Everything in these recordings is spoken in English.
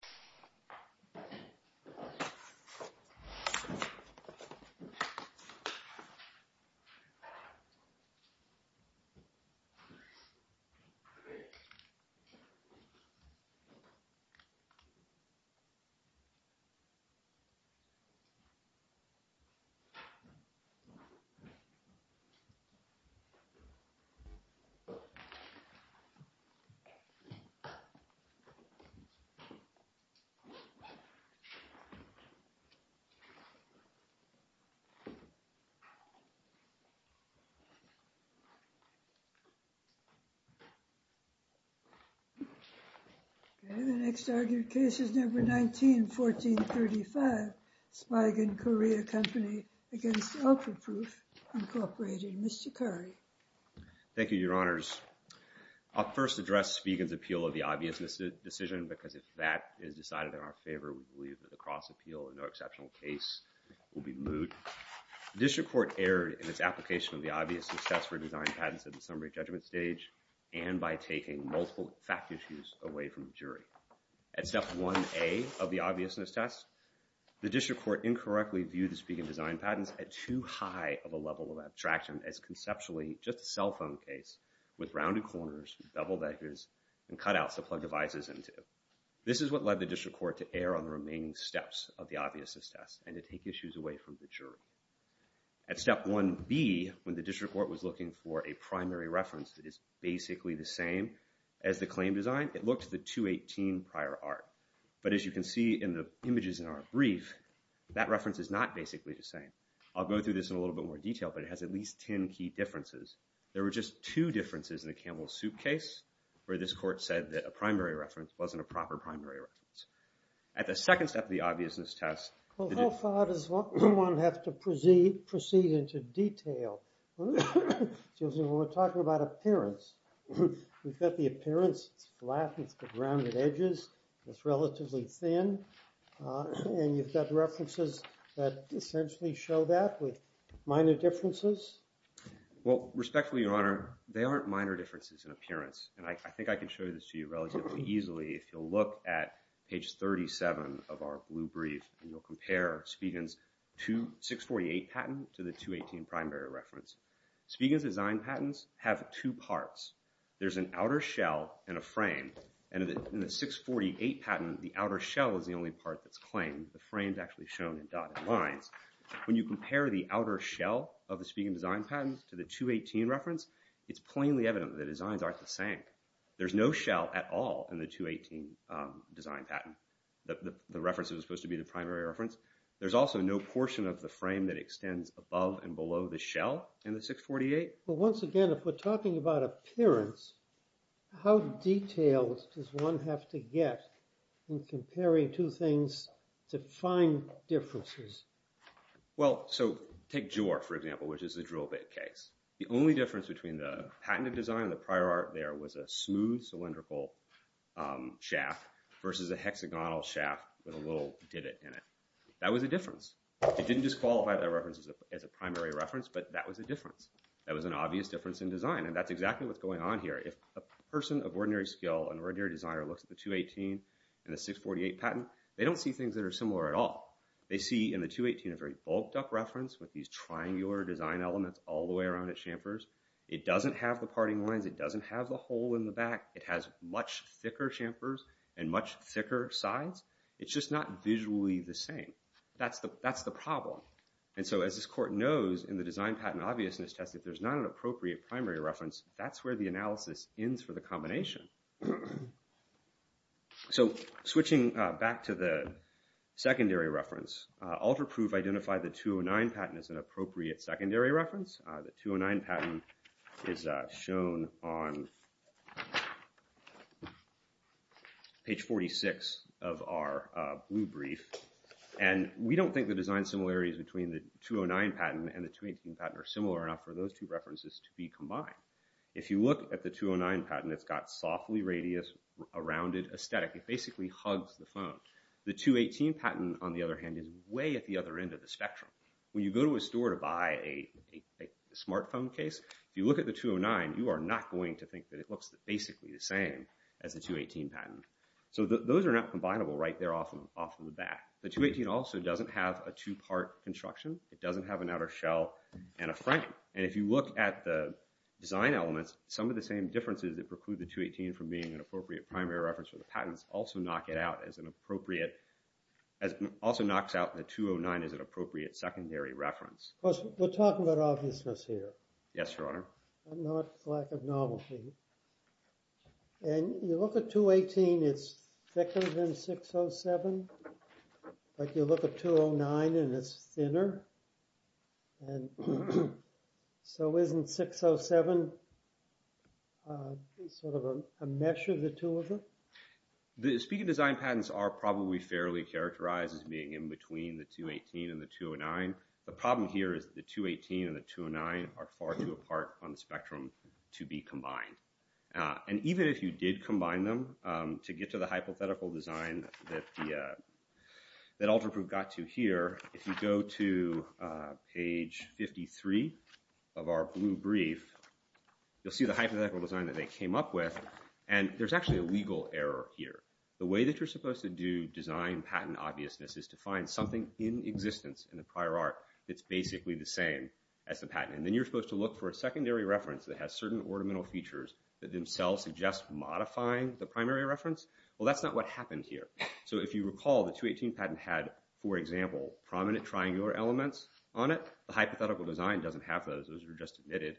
The U.S. is a global leader in the field of antiviral drugs. The U.S. has been a leader in the field of antiviral drugs since the early 2000s. The next argued case is No. 19-1435, Spigen Korea Co., Ltd. v. Ultraproof, Inc., Mr. Curry. Thank you, Your Honors. I'll first address Spigen's appeal of the obviousness decision, because if that is decided in our favor, we believe that the cross-appeal, a no-exceptional case, will be moot. The district court erred in its application of the obviousness test for design patents at the summary judgment stage and by taking multiple fact issues away from the jury. At Step 1A of the obviousness test, the district court incorrectly viewed the Spigen design patents at too high of a level of abstraction as conceptually just a cell phone case with rounded corners, beveled edges, and cutouts to plug devices into. This is what led the district court to err on the remaining steps of the obviousness test and to take issues away from the jury. At Step 1B, when the district court was looking for a primary reference that is basically the same as the claim design, it looked at the 218 prior art. But as you can see in the images in our brief, that reference is not basically the same. I'll go through this in a little bit more detail, but it has at least 10 key differences. There were just two differences in the Campbell Soup case where this court said that a primary reference wasn't a proper primary reference. At the second step of the obviousness test... Well, how far does one have to proceed into detail? When we're talking about appearance, we've got the appearance. It's flat, it's got rounded edges, it's relatively thin, and you've got references that essentially show that with minor differences. Well, respectfully, Your Honor, they aren't minor differences in appearance, and I think I can show this to you relatively easily if you'll look at page 37 of our blue brief and you'll compare Spiegan's 648 patent to the 218 primary reference. Spiegan's design patents have two parts. There's an outer shell and a frame, and in the 648 patent, the outer shell is the only part that's claimed. The frame's actually shown in dotted lines. When you compare the outer shell of the Spiegan design patent to the 218 reference, it's plainly evident that the designs aren't the same. There's no shell at all in the 218 design patent. The reference is supposed to be the primary reference. There's also no portion of the frame that extends above and below the shell in the 648. Well, once again, if we're talking about appearance, how detailed does one have to get in comparing two things to find differences? Well, so take Jor, for example, which is the drill bit case. The only difference between the patented design and the prior art there was a smooth cylindrical shaft versus a hexagonal shaft with a little divot in it. That was a difference. It didn't disqualify that reference as a primary reference, but that was a difference. That was an obvious difference in design, and that's exactly what's going on here. If a person of ordinary skill, an ordinary designer, looks at the 218 and the 648 patent, they don't see things that are similar at all. They see in the 218 a very bulked-up reference with these triangular design elements all the way around its chamfers. It doesn't have the parting lines. It doesn't have the hole in the back. It has much thicker chamfers and much thicker sides. It's just not visually the same. That's the problem. As this court knows, in the design patent obviousness test, if there's not an appropriate primary reference, that's where the analysis ends for the combination. Switching back to the secondary reference, AlterProof identified the 209 patent as an appropriate secondary reference. The 209 patent is shown on page 46 of our blue brief. We don't think the design similarities between the 209 patent and the 218 patent are similar enough for those two references to be combined. If you look at the 209 patent, it's got a softly radius-rounded aesthetic. It basically hugs the phone. The 218 patent, on the other hand, is way at the other end of the spectrum. When you go to a store to buy a smartphone case, if you look at the 209, you are not going to think that it looks basically the same as the 218 patent. Those are not combinable right there off in the back. The 218 also doesn't have a two-part construction. It doesn't have an outer shell and a frame. If you look at the design elements, some of the same differences that preclude the 218 from being an appropriate primary reference for the patents also knocks out the 209 as an appropriate secondary reference. We're talking about obviousness here. Yes, Your Honor. Not lack of novelty. And you look at 218, it's thicker than 607. But you look at 209 and it's thinner. And so isn't 607 sort of a mesh of the two of them? The speaking design patents are probably fairly characterized as being in between the 218 and the 209. The problem here is the 218 and the 209 are far too apart on the spectrum to be combined. And even if you did combine them to get to the hypothetical design that AlterProof got to here, if you go to page 53 of our blue brief, you'll see the hypothetical design that they came up with. And there's actually a legal error here. The way that you're supposed to do design patent obviousness is to find something in existence in the prior art that's basically the same as the patent. And then you're supposed to look for a secondary reference that has certain ornamental features that themselves suggest modifying the primary reference. Well, that's not what happened here. So if you recall, the 218 patent had, for example, prominent triangular elements on it. The hypothetical design doesn't have those. Those are just omitted.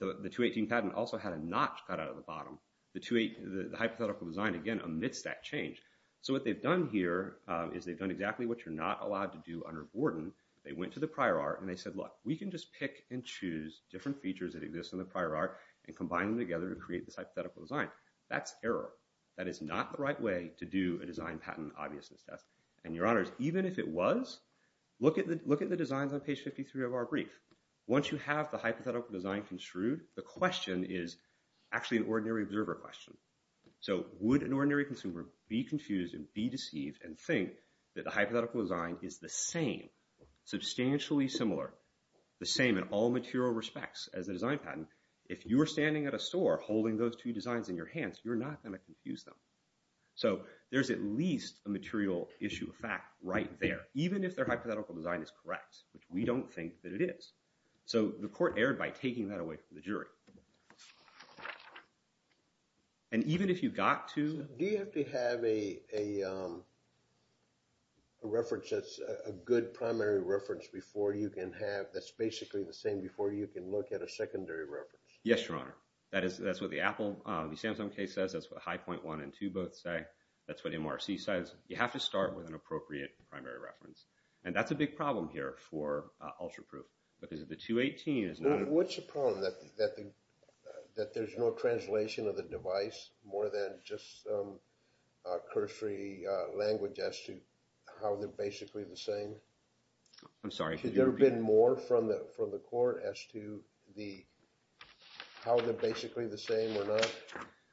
The 218 patent also had a notch cut out of the bottom. The hypothetical design, again, omits that change. So what they've done here is they've done exactly what you're not allowed to do under Borden. They went to the prior art and they said, look, we can just pick and choose different features that exist in the prior art and combine them together to create this hypothetical design. That's error. That is not the right way to do a design patent obviousness test. And your honors, even if it was, look at the designs on page 53 of our brief. Once you have the hypothetical design construed, the question is actually an ordinary observer question. So would an ordinary consumer be confused and be deceived and think that the hypothetical design is the same, substantially similar, the same in all material respects as a design patent? If you were standing at a store holding those two designs in your hands, you're not going to confuse them. So there's at least a material issue of fact right there, even if their hypothetical design is correct, which we don't think that it is. So the court erred by taking that away from the jury. And even if you got to. Do you have to have a reference that's a good primary reference before you can have, that's basically the same before you can look at a secondary reference? Yes, your honor. That's what the Apple, the Samsung case says. That's what high point one and two both say. That's what MRC says. You have to start with an appropriate primary reference. And that's a big problem here for UltraProof, because the 218 is not. What's the problem, that there's no translation of the device, more than just cursory language as to how they're basically the same? I'm sorry. Could there have been more from the court as to how they're basically the same or not?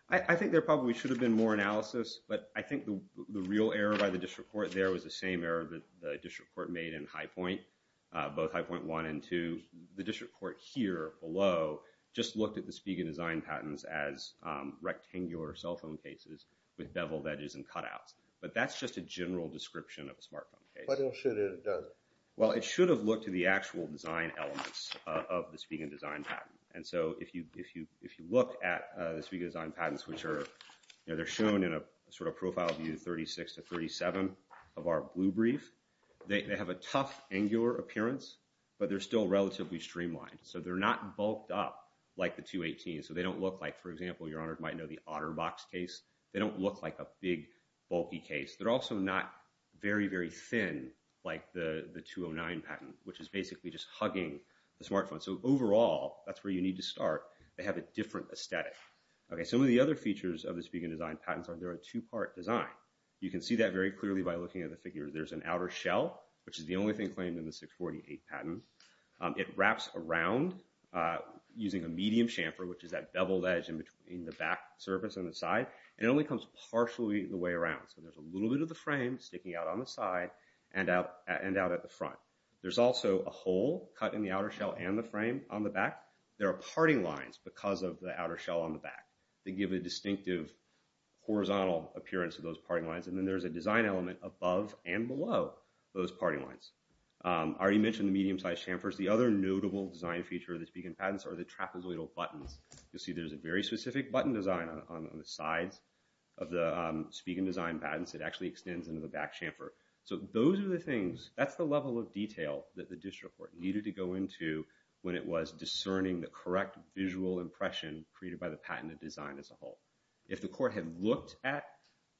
I think there probably should have been more analysis, but I think the real error by the district court there was the same error that the district court made in high point, both high point one and two. The district court here below just looked at the Spiegel design patents as rectangular cell phone cases with beveled edges and cutouts. But that's just a general description of a smartphone case. But it should have done it. Well, it should have looked at the actual design elements of the Spiegel design patent. And so if you look at the Spiegel design patents, which are shown in a sort of profile view 36 to 37 of our blue brief, they have a tough angular appearance, but they're still relatively streamlined. So they're not bulked up like the 218. So they don't look like, for example, Your Honor might know the OtterBox case. They don't look like a big bulky case. They're also not very, very thin like the 209 patent, which is basically just hugging the smartphone. So overall, that's where you need to start. They have a different aesthetic. Some of the other features of the Spiegel design patents are they're a two-part design. You can see that very clearly by looking at the figure. There's an outer shell, which is the only thing claimed in the 648 patent. It wraps around using a medium chamfer, which is that beveled edge in the back surface on the side. And it only comes partially the way around. So there's a little bit of the frame sticking out on the side and out at the front. There's also a hole cut in the outer shell and the frame on the back. There are parting lines because of the outer shell on the back. They give a distinctive horizontal appearance to those parting lines. And then there's a design element above and below those parting lines. I already mentioned the medium-sized chamfers. The other notable design feature of the Spiegel patents are the trapezoidal buttons. You'll see there's a very specific button design on the sides of the Spiegel design patents. It actually extends into the back chamfer. So those are the things, that's the level of detail that the district court needed to go into when it was discerning the correct visual impression created by the patented design as a whole. If the court had looked at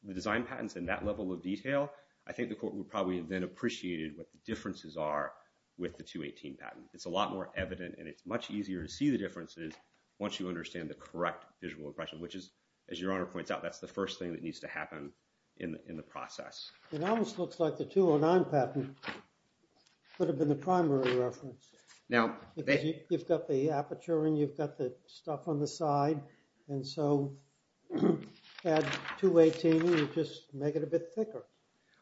the design patents in that level of detail, I think the court would probably have then appreciated what the differences are with the 218 patent. It's a lot more evident, and it's much easier to see the differences once you understand the correct visual impression, which is, as Your Honor points out, that's the first thing that needs to happen in the process. It almost looks like the 209 patent could have been the primary reference. Because you've got the aperture and you've got the stuff on the side, and so add 218 and you just make it a bit thicker.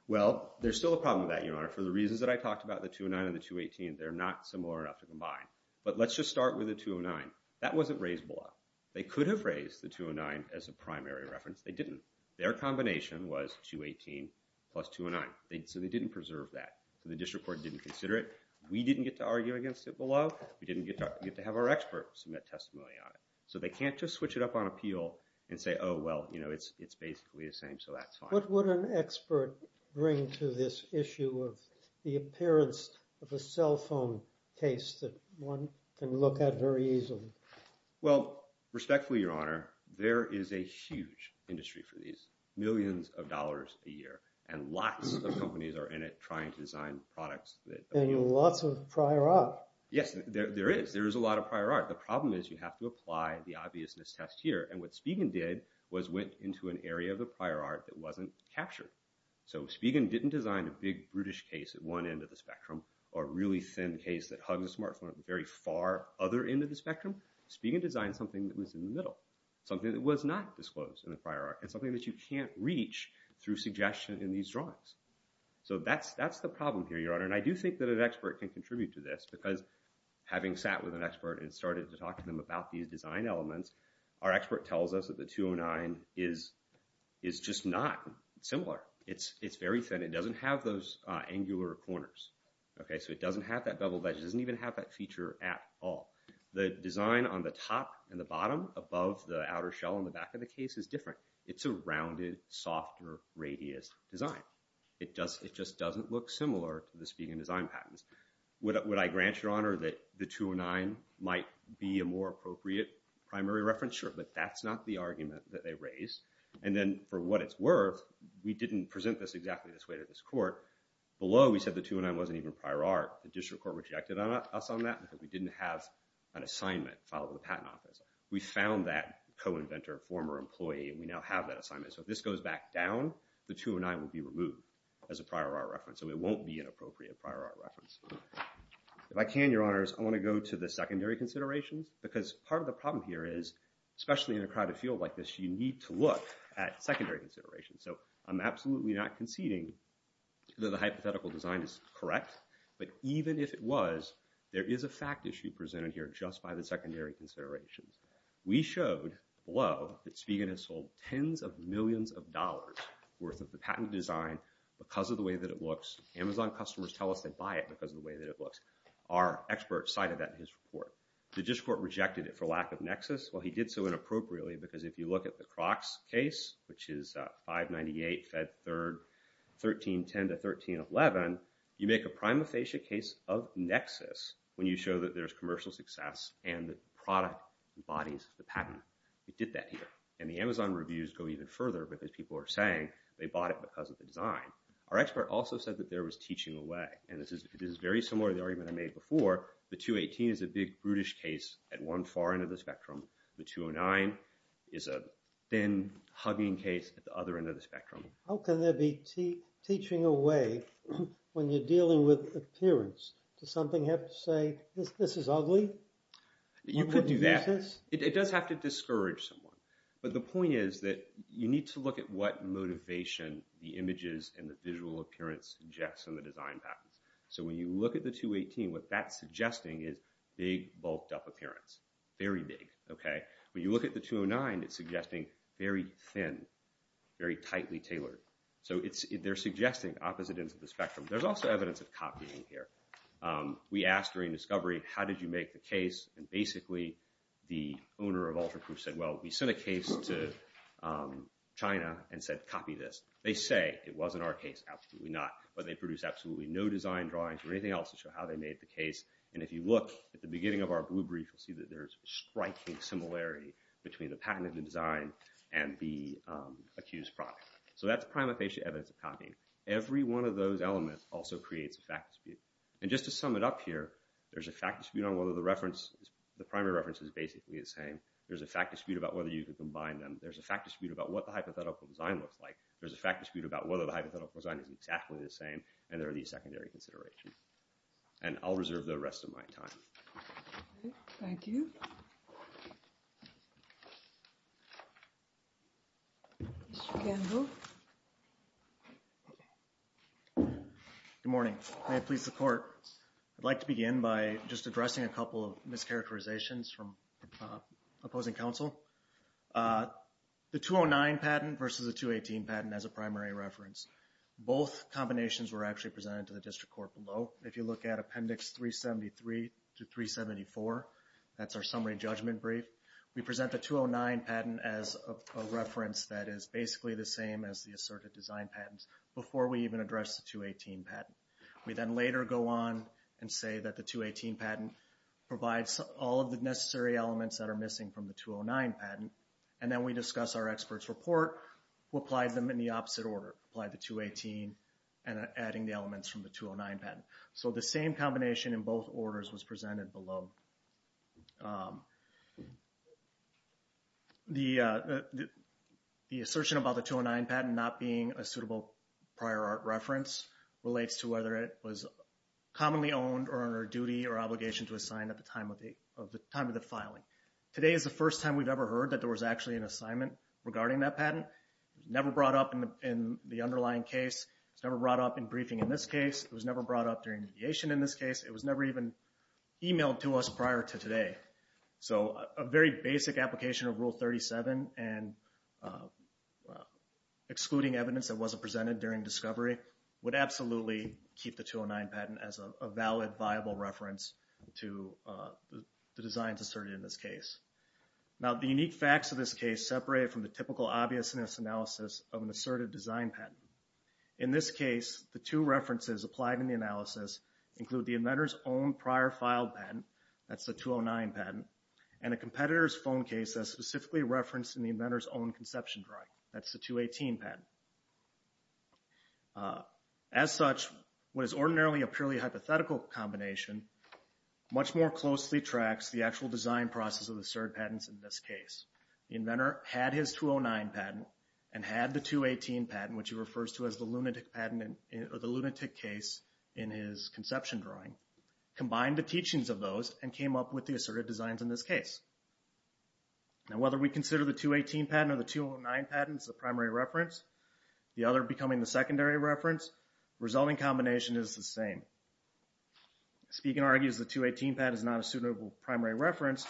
Well, there's still a problem with that, Your Honor. For the reasons that I talked about, the 209 and the 218, they're not similar enough to combine. But let's just start with the 209. That wasn't raised below. They could have raised the 209 as a primary reference. They didn't. Their combination was 218 plus 209. So they didn't preserve that. So the district court didn't consider it. We didn't get to argue against it below. We didn't get to have our experts submit testimony on it. So they can't just switch it up on appeal and say, oh, well, you know, it's basically the same, so that's fine. What would an expert bring to this issue of the appearance of a cell phone case that one can look at very easily? Well, respectfully, Your Honor, there is a huge industry for these, millions of dollars a year, and lots of companies are in it trying to design products. And lots of prior art. Yes, there is. There is a lot of prior art. The problem is you have to apply the obviousness test here, and what Spigen did was went into an area of the prior art that wasn't captured. So Spigen didn't design a big brutish case at one end of the spectrum or a really thin case that hugs a smartphone at the very far other end of the spectrum. Spigen designed something that was in the middle, something that was not disclosed in the prior art, and something that you can't reach through suggestion in these drawings. So that's the problem here, Your Honor, and I do think that an expert can contribute to this because having sat with an expert and started to talk to them about these design elements, our expert tells us that the 209 is just not similar. It's very thin. It doesn't have those angular corners. So it doesn't have that beveled edge. It doesn't even have that feature at all. The design on the top and the bottom above the outer shell on the back of the case is different. It's a rounded, softer radius design. It just doesn't look similar to the Spigen design patterns. Would I grant, Your Honor, that the 209 might be a more appropriate primary reference? Sure, but that's not the argument that they raised. And then for what it's worth, we didn't present this exactly this way to this court. Below, we said the 209 wasn't even prior art. The district court rejected us on that because we didn't have an assignment filed with the Patent Office. We found that co-inventor, former employee, and we now have that assignment. So if this goes back down, the 209 will be removed as a prior art reference, so it won't be an appropriate prior art reference. If I can, Your Honors, I want to go to the secondary considerations because part of the problem here is, especially in a crowded field like this, you need to look at secondary considerations. So I'm absolutely not conceding that the hypothetical design is correct, but even if it was, there is a fact issue presented here just by the secondary considerations. We showed below that Spigen has sold tens of millions of dollars worth of the patent design because of the way that it looks. Amazon customers tell us they buy it because of the way that it looks. Our expert cited that in his report. The district court rejected it for lack of nexus. Well, he did so inappropriately because if you look at the Crocs case, which is 598 Fed 3rd, 1310 to 1311, you make a prima facie case of nexus when you show that there's commercial success and the product embodies the patent. We did that here, and the Amazon reviews go even further because people are saying they bought it because of the design. Our expert also said that there was teaching away, and this is very similar to the argument I made before. The 218 is a big brutish case at one far end of the spectrum. The 209 is a thin, hugging case at the other end of the spectrum. How can there be teaching away when you're dealing with appearance? Does something have to say, this is ugly? You could do that. You wouldn't use this? It does have to discourage someone, but the point is that you need to look at what motivation the images and the visual appearance suggests in the design patents. So when you look at the 218, what that's suggesting is big, bulked-up appearance. Very big. When you look at the 209, it's suggesting very thin, very tightly tailored. So they're suggesting opposite ends of the spectrum. There's also evidence of copying here. We asked during discovery, how did you make the case? And basically, the owner of Ultraproof said, well, we sent a case to China and said, copy this. They say it wasn't our case. Absolutely not. But they produced absolutely no design drawings or anything else to show how they made the case. And if you look at the beginning of our blue brief, you'll see that there's striking similarity between the patent of the design and the accused product. So that's prima facie evidence of copying. Every one of those elements also creates a fact dispute. And just to sum it up here, there's a fact dispute on whether the reference, the primary reference, is basically the same. There's a fact dispute about whether you can combine them. There's a fact dispute about what the hypothetical design looks like. There's a fact dispute about whether the hypothetical design is exactly the same. And there are these secondary considerations. And I'll reserve the rest of my time. Thank you. Mr. Gamble. Good morning. May it please the court, I'd like to begin by just addressing a couple of mischaracterizations from opposing counsel. The 209 patent versus the 218 patent as a primary reference. Both combinations were actually presented to the district court below. If you look at Appendix 373 to 374, that's our summary judgment brief, we present the 209 patent as a reference that is basically the same as the asserted design patents before we even address the 218 patent. We then later go on and say that the 218 patent provides all of the necessary elements that are missing from the 209 patent. And then we discuss our expert's report, we'll apply them in the opposite order, apply the 218 and adding the elements from the 209 patent. So the same combination in both orders was presented below. The assertion about the 209 patent not being a suitable prior art reference relates to whether it was commonly owned or under duty or obligation to assign at the time of the filing. Today is the first time we've ever heard that there was actually an assignment regarding that patent. It was never brought up in the underlying case, it was never brought up in briefing in this case, it was never brought up during mediation in this case, it was never even emailed to us prior to today. So a very basic application of Rule 37 and excluding evidence that wasn't presented during discovery would absolutely keep the 209 patent as a valid, viable reference to the designs asserted in this case. Now the unique facts of this case separate it from the typical obviousness analysis of an asserted design patent. In this case, the two references applied in the analysis include the inventor's own prior file patent, that's the 209 patent, and a competitor's phone case that's specifically referenced in the inventor's own conception drawing, that's the 218 patent. As such, what is ordinarily a purely hypothetical combination, much more closely tracks the actual design process of the asserted patents in this case. The inventor had his 209 patent and had the 218 patent, which he refers to as the lunatic case in his conception drawing, combined the teachings of those and came up with the asserted designs in this case. Now whether we consider the 218 patent or the 209 patent as the primary reference, the other becoming the secondary reference, resulting combination is the same. Spiegel argues the 218 patent is not a suitable primary reference,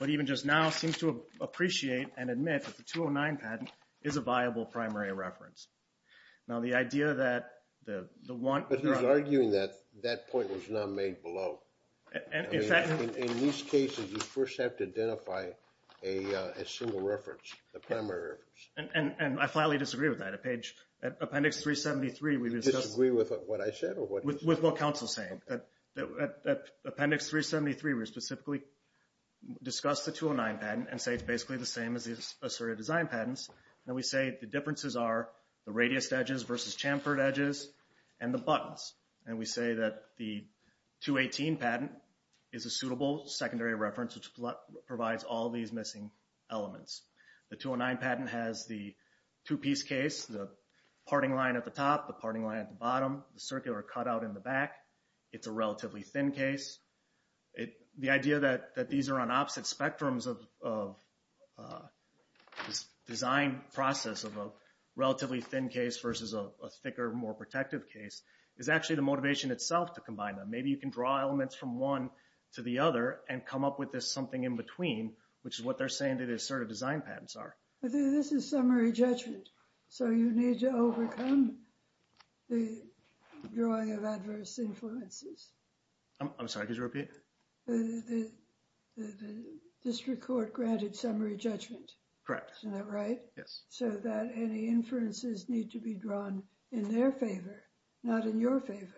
but even just now seems to appreciate and admit that the 209 patent is a viable primary reference. Now the idea that the one... But he's arguing that that point was not made below. In these cases, you first have to identify a single reference, the primary reference. And I flatly disagree with that. At appendix 373, we discussed... You disagree with what I said or what he said? With what counsel is saying. At appendix 373, we specifically discussed the 209 patent and say it's basically the same as the asserted design patents. And we say the differences are the radius edges versus chamfered edges and the buttons. And we say that the 218 patent is a suitable secondary reference, which provides all these missing elements. The 209 patent has the two-piece case, the parting line at the top, the parting line at the bottom, the circular cutout in the back. It's a relatively thin case. The idea that these are on opposite spectrums of this design process of a relatively thin case versus a thicker, more protective case is actually the motivation itself to combine them. Maybe you can draw elements from one to the other and come up with this something in between, which is what they're saying the asserted design patents are. But this is summary judgment. So you need to overcome the drawing of adverse influences. I'm sorry, could you repeat? The district court granted summary judgment. Correct. Isn't that right? Yes. So that any inferences need to be drawn in their favor, not in your favor.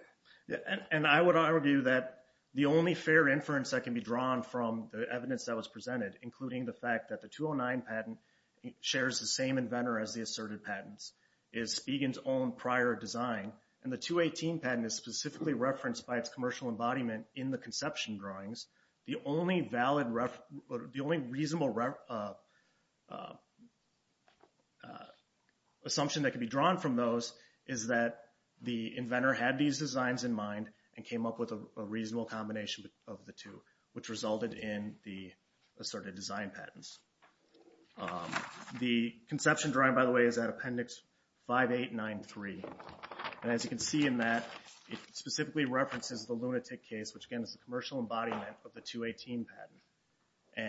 And I would argue that the only fair inference that can be drawn from the evidence that was presented, including the fact that the 209 patent shares the same inventor as the asserted patents, is Spigen's own prior design. And the 218 patent is specifically referenced by its commercial embodiment in the conception drawings. The only reasonable assumption that can be drawn from those is that the inventor had these designs in mind and came up with a reasonable combination of the two, which resulted in the asserted design patents. The conception drawing, by the way, is at appendix 5893. And as you can see in that, it specifically references the lunatic case, which again is the commercial embodiment of the 218 patent,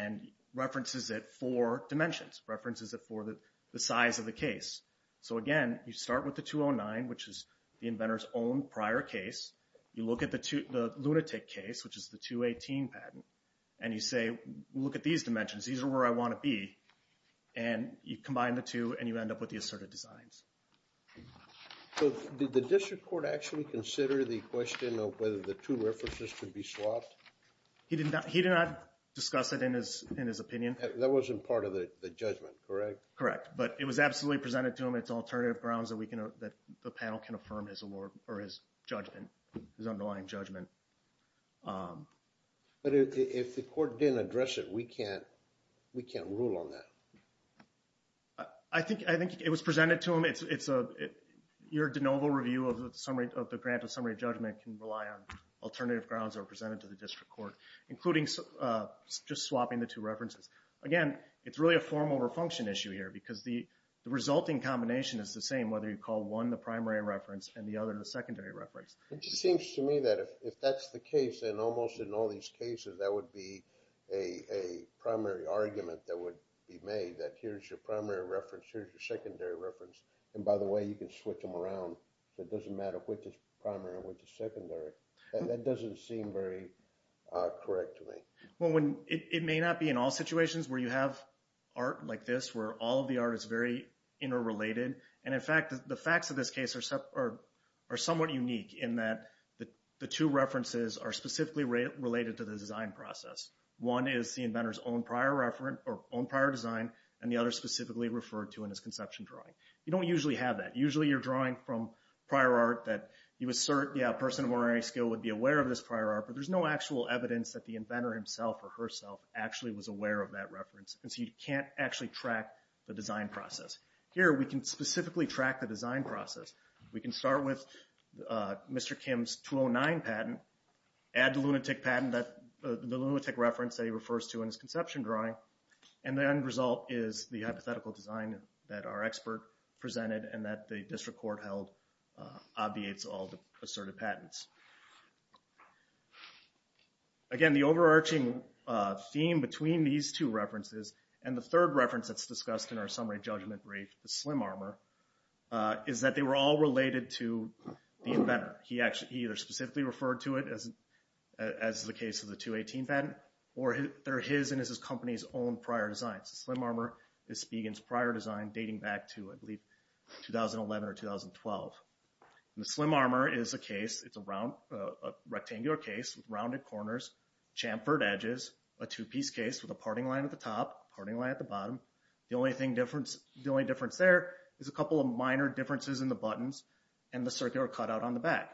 and references it for dimensions, references it for the size of the case. So, again, you start with the 209, which is the inventor's own prior case. You look at the lunatic case, which is the 218 patent, and you say, look at these dimensions. These are where I want to be. And you combine the two, and you end up with the asserted designs. So did the district court actually consider the question of whether the two references could be swapped? He did not discuss it in his opinion. That wasn't part of the judgment, correct? Correct. But it was absolutely presented to him as alternative grounds that the panel can affirm his judgment, his underlying judgment. But if the court didn't address it, we can't rule on that. I think it was presented to him. Your de novo review of the grant of summary judgment can rely on alternative grounds that were presented to the district court, including just swapping the two references. Again, it's really a form over function issue here, because the resulting combination is the same, whether you call one the primary reference and the other the secondary reference. It just seems to me that if that's the case, then almost in all these cases, that would be a primary argument that would be made, that here's your primary reference, here's your secondary reference. And by the way, you can switch them around, so it doesn't matter which is primary and which is secondary. That doesn't seem very correct to me. Well, it may not be in all situations where you have art like this, where all of the art is very interrelated. And in fact, the facts of this case are somewhat unique, in that the two references are specifically related to the design process. One is the inventor's own prior design, and the other specifically referred to in his conception drawing. You don't usually have that. Usually you're drawing from prior art that you assert, yeah, a person of honorary skill would be aware of this prior art, but there's no actual evidence that the inventor himself or herself actually was aware of that reference. And so you can't actually track the design process. Here we can specifically track the design process. We can start with Mr. Kim's 209 patent, add the lunatic reference that he refers to in his conception drawing, and the end result is the hypothetical design that our expert presented and that the district court held obviates all the asserted patents. Again, the overarching theme between these two references and the third reference that's discussed in our summary judgment brief, the slim armor, is that they were all related to the inventor. He either specifically referred to it as the case of the 218 patent, or they're his and his company's own prior designs. The slim armor is Spigen's prior design dating back to, I believe, 2011 or 2012. The slim armor is a case. It's a rectangular case with rounded corners, chamfered edges, a two-piece case with a parting line at the top, a parting line at the bottom. The only difference there is a couple of minor differences in the buttons and the circular cutout on the back.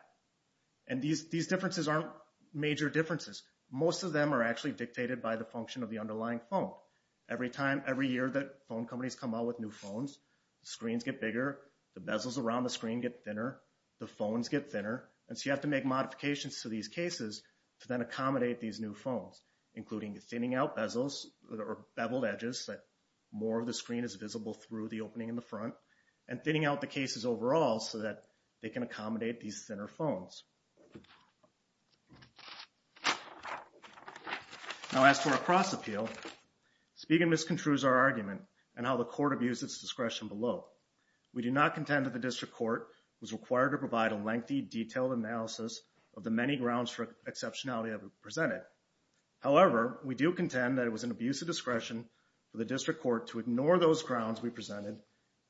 And these differences aren't major differences. Most of them are actually dictated by the function of the underlying phone. Every year that phone companies come out with new phones, the screens get bigger, the bezels around the screen get thinner, the phones get thinner. And so you have to make modifications to these cases to then accommodate these new phones, including thinning out bezels or beveled edges so that more of the screen is visible through the opening in the front, and thinning out the cases overall so that they can accommodate these thinner phones. Now, as to our cross appeal, Spigen misconstrues our argument and how the court abused its discretion below. We do not contend that the district court was required to provide a lengthy, detailed analysis of the many grounds for exceptionality that were presented. However, we do contend that it was an abuse of discretion for the district court to ignore those grounds we presented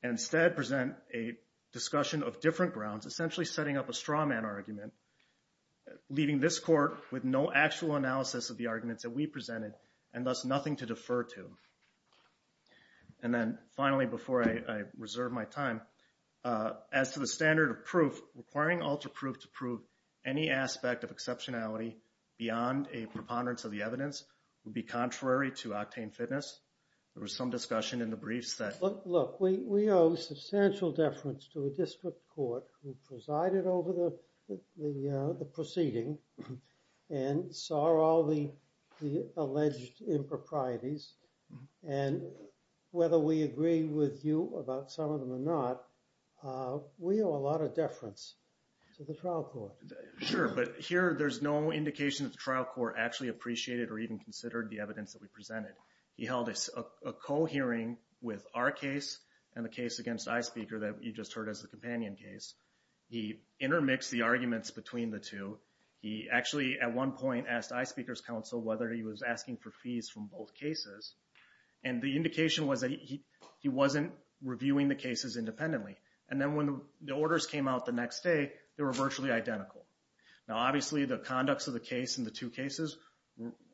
and instead present a discussion of different grounds, essentially setting up a straw man argument, leaving this court with no actual analysis of the arguments that we presented and thus nothing to defer to. And then finally, before I reserve my time, as to the standard of proof, requiring alter proof to prove any aspect of exceptionality beyond a preponderance of the evidence would be contrary to octane fitness. There was some discussion in the briefs that... Look, we owe substantial deference to a district court who presided over the proceeding and saw all the alleged improprieties and whether we agree with you about some of them or not, we owe a lot of deference to the trial court. Sure, but here there's no indication that the trial court actually appreciated or even considered the evidence that we presented. He held a co-hearing with our case and the case against Eye Speaker that you just heard as the companion case. He intermixed the arguments between the two. He actually, at one point, asked Eye Speaker's counsel whether he was asking for fees from both cases. And the indication was that he wasn't reviewing the cases independently. And then when the orders came out the next day, they were virtually identical. Now, obviously, the conducts of the case in the two cases,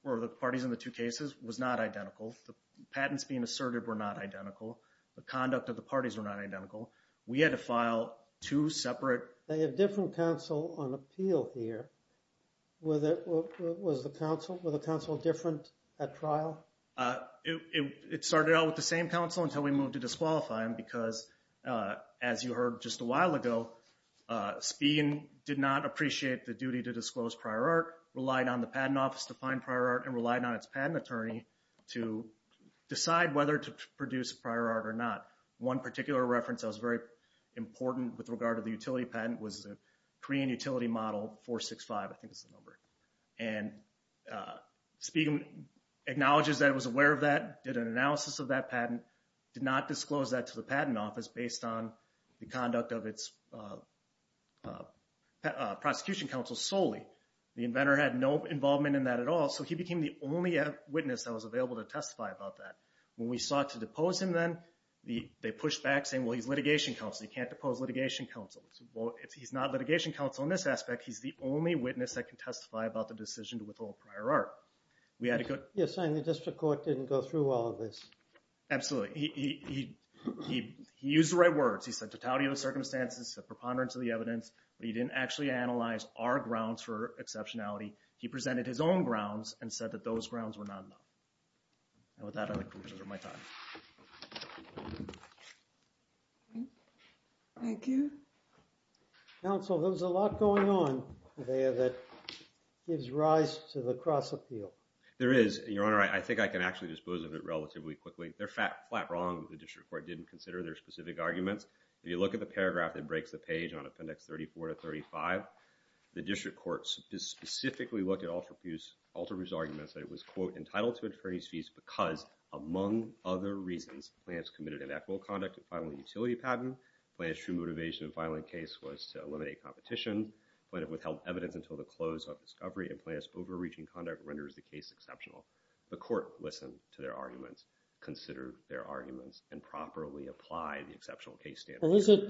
or the parties in the two cases, was not identical. The patents being asserted were not identical. The conduct of the parties were not identical. We had to file two separate... They have different counsel on appeal here. Was the counsel different at trial? It started out with the same counsel until we moved to disqualify him because, as you heard just a while ago, Spigen did not appreciate the duty to disclose prior art, relied on the Patent Office to find prior art, and relied on its patent attorney to decide whether to produce prior art or not. One particular reference that was very important with regard to the utility patent was the Korean Utility Model 465, I think is the number. And Spigen acknowledges that he was aware of that, did an analysis of that patent, did not disclose that to the Patent Office based on the conduct of its prosecution counsel solely. The inventor had no involvement in that at all, so he became the only witness that was available to testify about that. When we sought to depose him then, they pushed back saying, well, he's litigation counsel. He can't depose litigation counsel. He's not litigation counsel in this aspect. He's the only witness that can testify about the decision to withhold prior art. Yes, sir, and the district court didn't go through all of this. Absolutely. He used the right words. He said totality of the circumstances, the preponderance of the evidence, but he didn't actually analyze our grounds for exceptionality. He presented his own grounds and said that those grounds were not enough. And with that, I think those are my thoughts. Thank you. Counsel, there's a lot going on there that gives rise to the cross-appeal. There is, Your Honor. I think I can actually dispose of it relatively quickly. They're flat wrong that the district court didn't consider their specific arguments. If you look at the paragraph that breaks the page on Appendix 34 to 35, the district court specifically looked at Alterbu's arguments that it was, quote, entitled to attorney's fees because, among other reasons, plaintiff's committed an equitable conduct in filing a utility patent, plaintiff's true motivation in filing a case was to eliminate competition, plaintiff withheld evidence until the close of discovery, and plaintiff's overreaching conduct renders the case exceptional. The court listened to their arguments, considered their arguments, and properly applied the exceptional case standard. Well, is it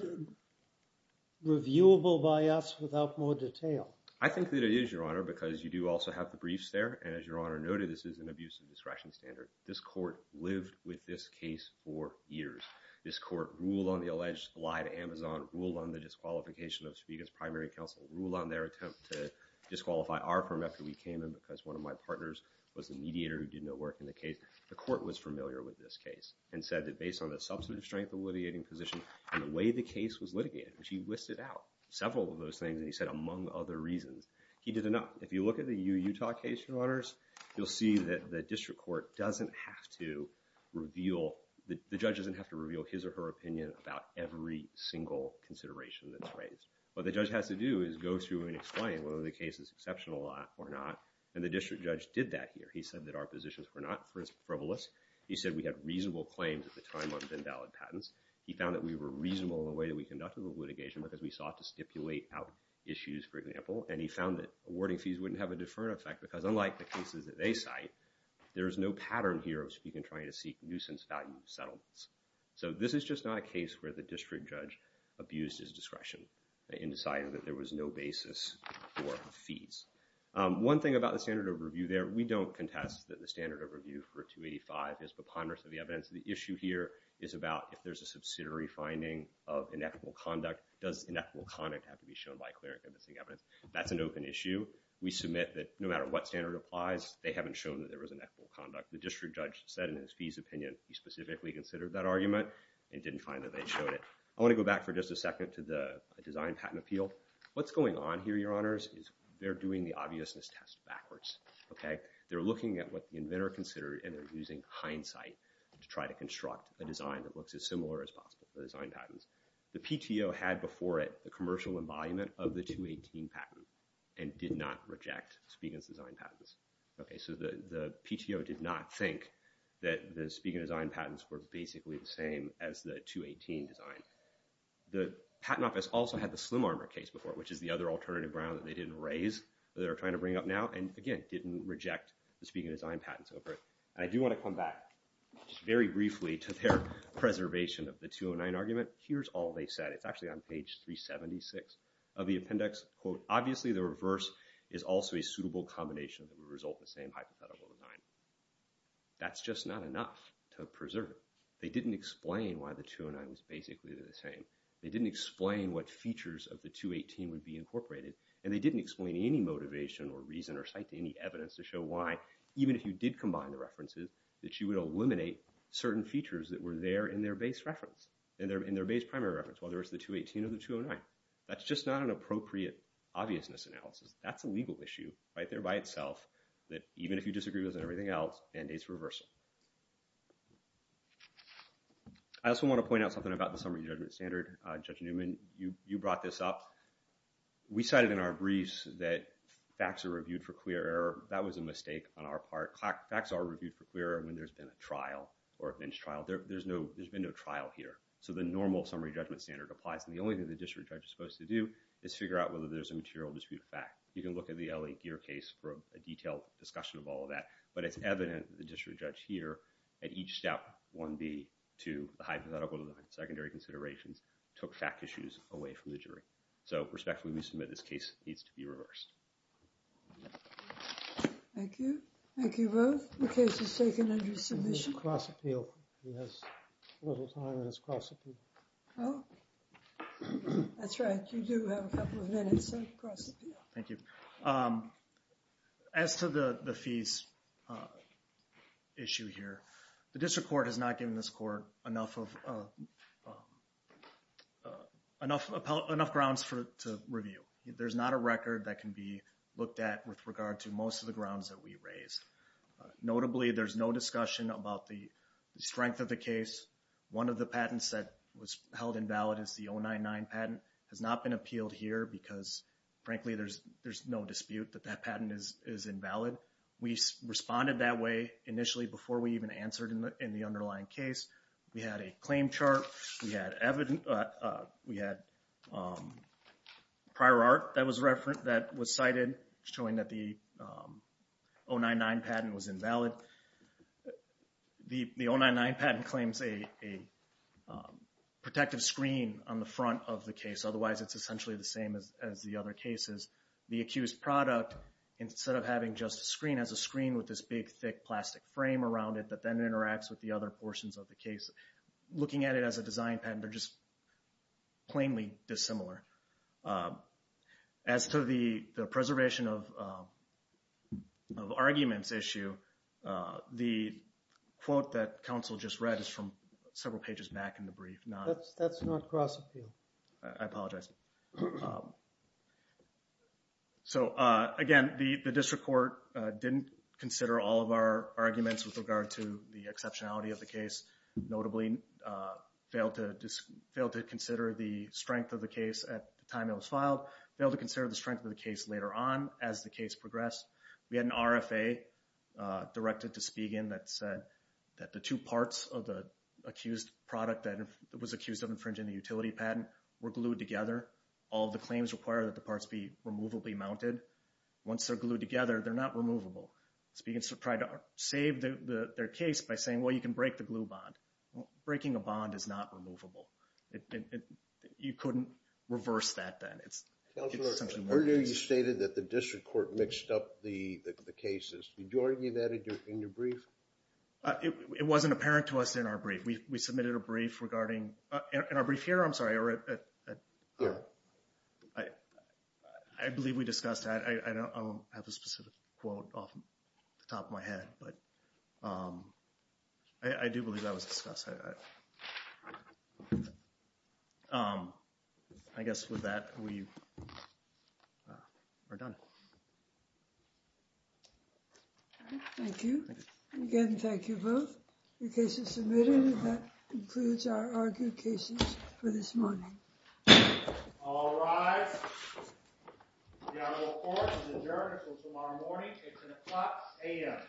reviewable by us without more detail? I think that it is, Your Honor, because you do also have the briefs there, and as Your Honor noted, this is an abuse of discretion standard. This court lived with this case for years. This court ruled on the alleged lie to Amazon, ruled on the disqualification of Chibiga's primary counsel, ruled on their attempt to disqualify our firm after we came in because one of my partners was the mediator who did no work in the case. The court was familiar with this case and said that based on the substantive strength of the litigating position and the way the case was litigated, which he listed out several of those things, and he said, among other reasons, he did enough. If you look at the UU Utah case, Your Honors, you'll see that the district court doesn't have to reveal, the judge doesn't have to reveal his or her opinion about every single consideration that's raised. What the judge has to do is go through and explain whether the case is exceptional or not, and the district judge did that here. He said that our positions were not frivolous. He said we had reasonable claims at the time on invalid patents. He found that we were reasonable in the way that we conducted the litigation because we sought to stipulate out issues, for example, and he found that awarding fees wouldn't have a deferred effect because, unlike the cases that they cite, there is no pattern here of speaking and trying to seek nuisance value settlements. So this is just not a case where the district judge abused his discretion in deciding that there was no basis for fees. One thing about the standard of review there, we don't contest that the standard of review for 285 is preponderance of the evidence. The issue here is about if there's a subsidiary finding of inequitable conduct, does inequitable conduct have to be shown by clearing and missing evidence? That's an open issue. We submit that no matter what standard applies, they haven't shown that there was inequitable conduct. The district judge said in his fees opinion he specifically considered that argument and didn't find that they showed it. I want to go back for just a second to the design patent appeal. What's going on here, Your Honors, is they're doing the obviousness test backwards. They're looking at what the inventor considered, and they're using hindsight to try to construct a design that looks as similar as possible for design patents. The PTO had before it the commercial embolliment of the 218 patent and did not reject Spigen's design patents. So the PTO did not think that the Spigen design patents were basically the same as the 218 design. The Patent Office also had the Slim Armor case before it, which is the other alternative ground that they didn't raise that they're trying to bring up now and, again, didn't reject the Spigen design patents over it. I do want to come back very briefly to their preservation of the 209 argument. Here's all they said. It's actually on page 376 of the appendix, quote, obviously the reverse is also a suitable combination that would result in the same hypothetical design. That's just not enough to preserve it. They didn't explain why the 209 was basically the same. They didn't explain what features of the 218 would be incorporated, and they didn't explain any motivation or reason or cite any evidence to show why, even if you did combine the references, that you would eliminate certain features that were there in their base reference and their base primary reference, whether it's the 218 or the 209. That's just not an appropriate obviousness analysis. That's a legal issue right there by itself that, even if you disagree with it and everything else, mandates reversal. I also want to point out something about the summary judgment standard. Judge Newman, you brought this up. We cited in our briefs that facts are reviewed for queer error. That was a mistake on our part. Facts are reviewed for queer error when there's been a trial or a bench trial. There's been no trial here. So the normal summary judgment standard applies, and the only thing the district judge is supposed to do is figure out whether there's a material dispute of fact. You can look at the L.A. Geer case for a detailed discussion of all of that, but it's evident that the district judge here, at each step, 1B, 2, the hypothetical design, secondary considerations, took fact issues away from the jury. So, respectfully, we submit this case needs to be reversed. Thank you. Thank you both. The case is taken under submission. Do you cross-appeal? He has little time, and it's cross-appeal. Oh, that's right. You do have a couple of minutes to cross-appeal. Thank you. As to the fees issue here, the district court has not given this court enough grounds to review. There's not a record that can be looked at with regard to most of the grounds that we raised. Notably, there's no discussion about the strength of the case. One of the patents that was held invalid is the 099 patent. It has not been appealed here because, frankly, there's no dispute that that patent is invalid. We responded that way initially before we even answered in the underlying case. We had a claim chart. We had prior art that was cited showing that the 099 patent was invalid. The 099 patent claims a protective screen on the front of the case. Otherwise, it's essentially the same as the other cases. The accused product, instead of having just a screen, has a screen with this big, thick plastic frame around it that then interacts with the other portions of the case. Looking at it as a design patent, they're just plainly dissimilar. As to the preservation of arguments issue, the quote that counsel just read is from several pages back in the brief. That's not cross-appeal. I apologize. Again, the district court didn't consider all of our arguments with regard to the exceptionality of the case. Notably, failed to consider the strength of the case at the time it was filed. Failed to consider the strength of the case later on as the case progressed. We had an RFA directed to Spigen that said that the two parts of the accused product that was accused of infringing the utility patent were glued together. All the claims require that the parts be removably mounted. Once they're glued together, they're not removable. Spigen tried to save their case by saying, well, you can break the glue bond. Breaking a bond is not removable. You couldn't reverse that then. Earlier you stated that the district court mixed up the cases. Did you argue that in your brief? It wasn't apparent to us in our brief. We submitted a brief regarding – in our brief here, I'm sorry. Here. I believe we discussed that. I don't have a specific quote off the top of my head, but I do believe that was discussed. I guess with that, we're done. Thank you. Again, thank you both. The case is submitted. That concludes our argued cases for this morning. All rise. The honorable court is adjourned until tomorrow morning. It's an o'clock a.m.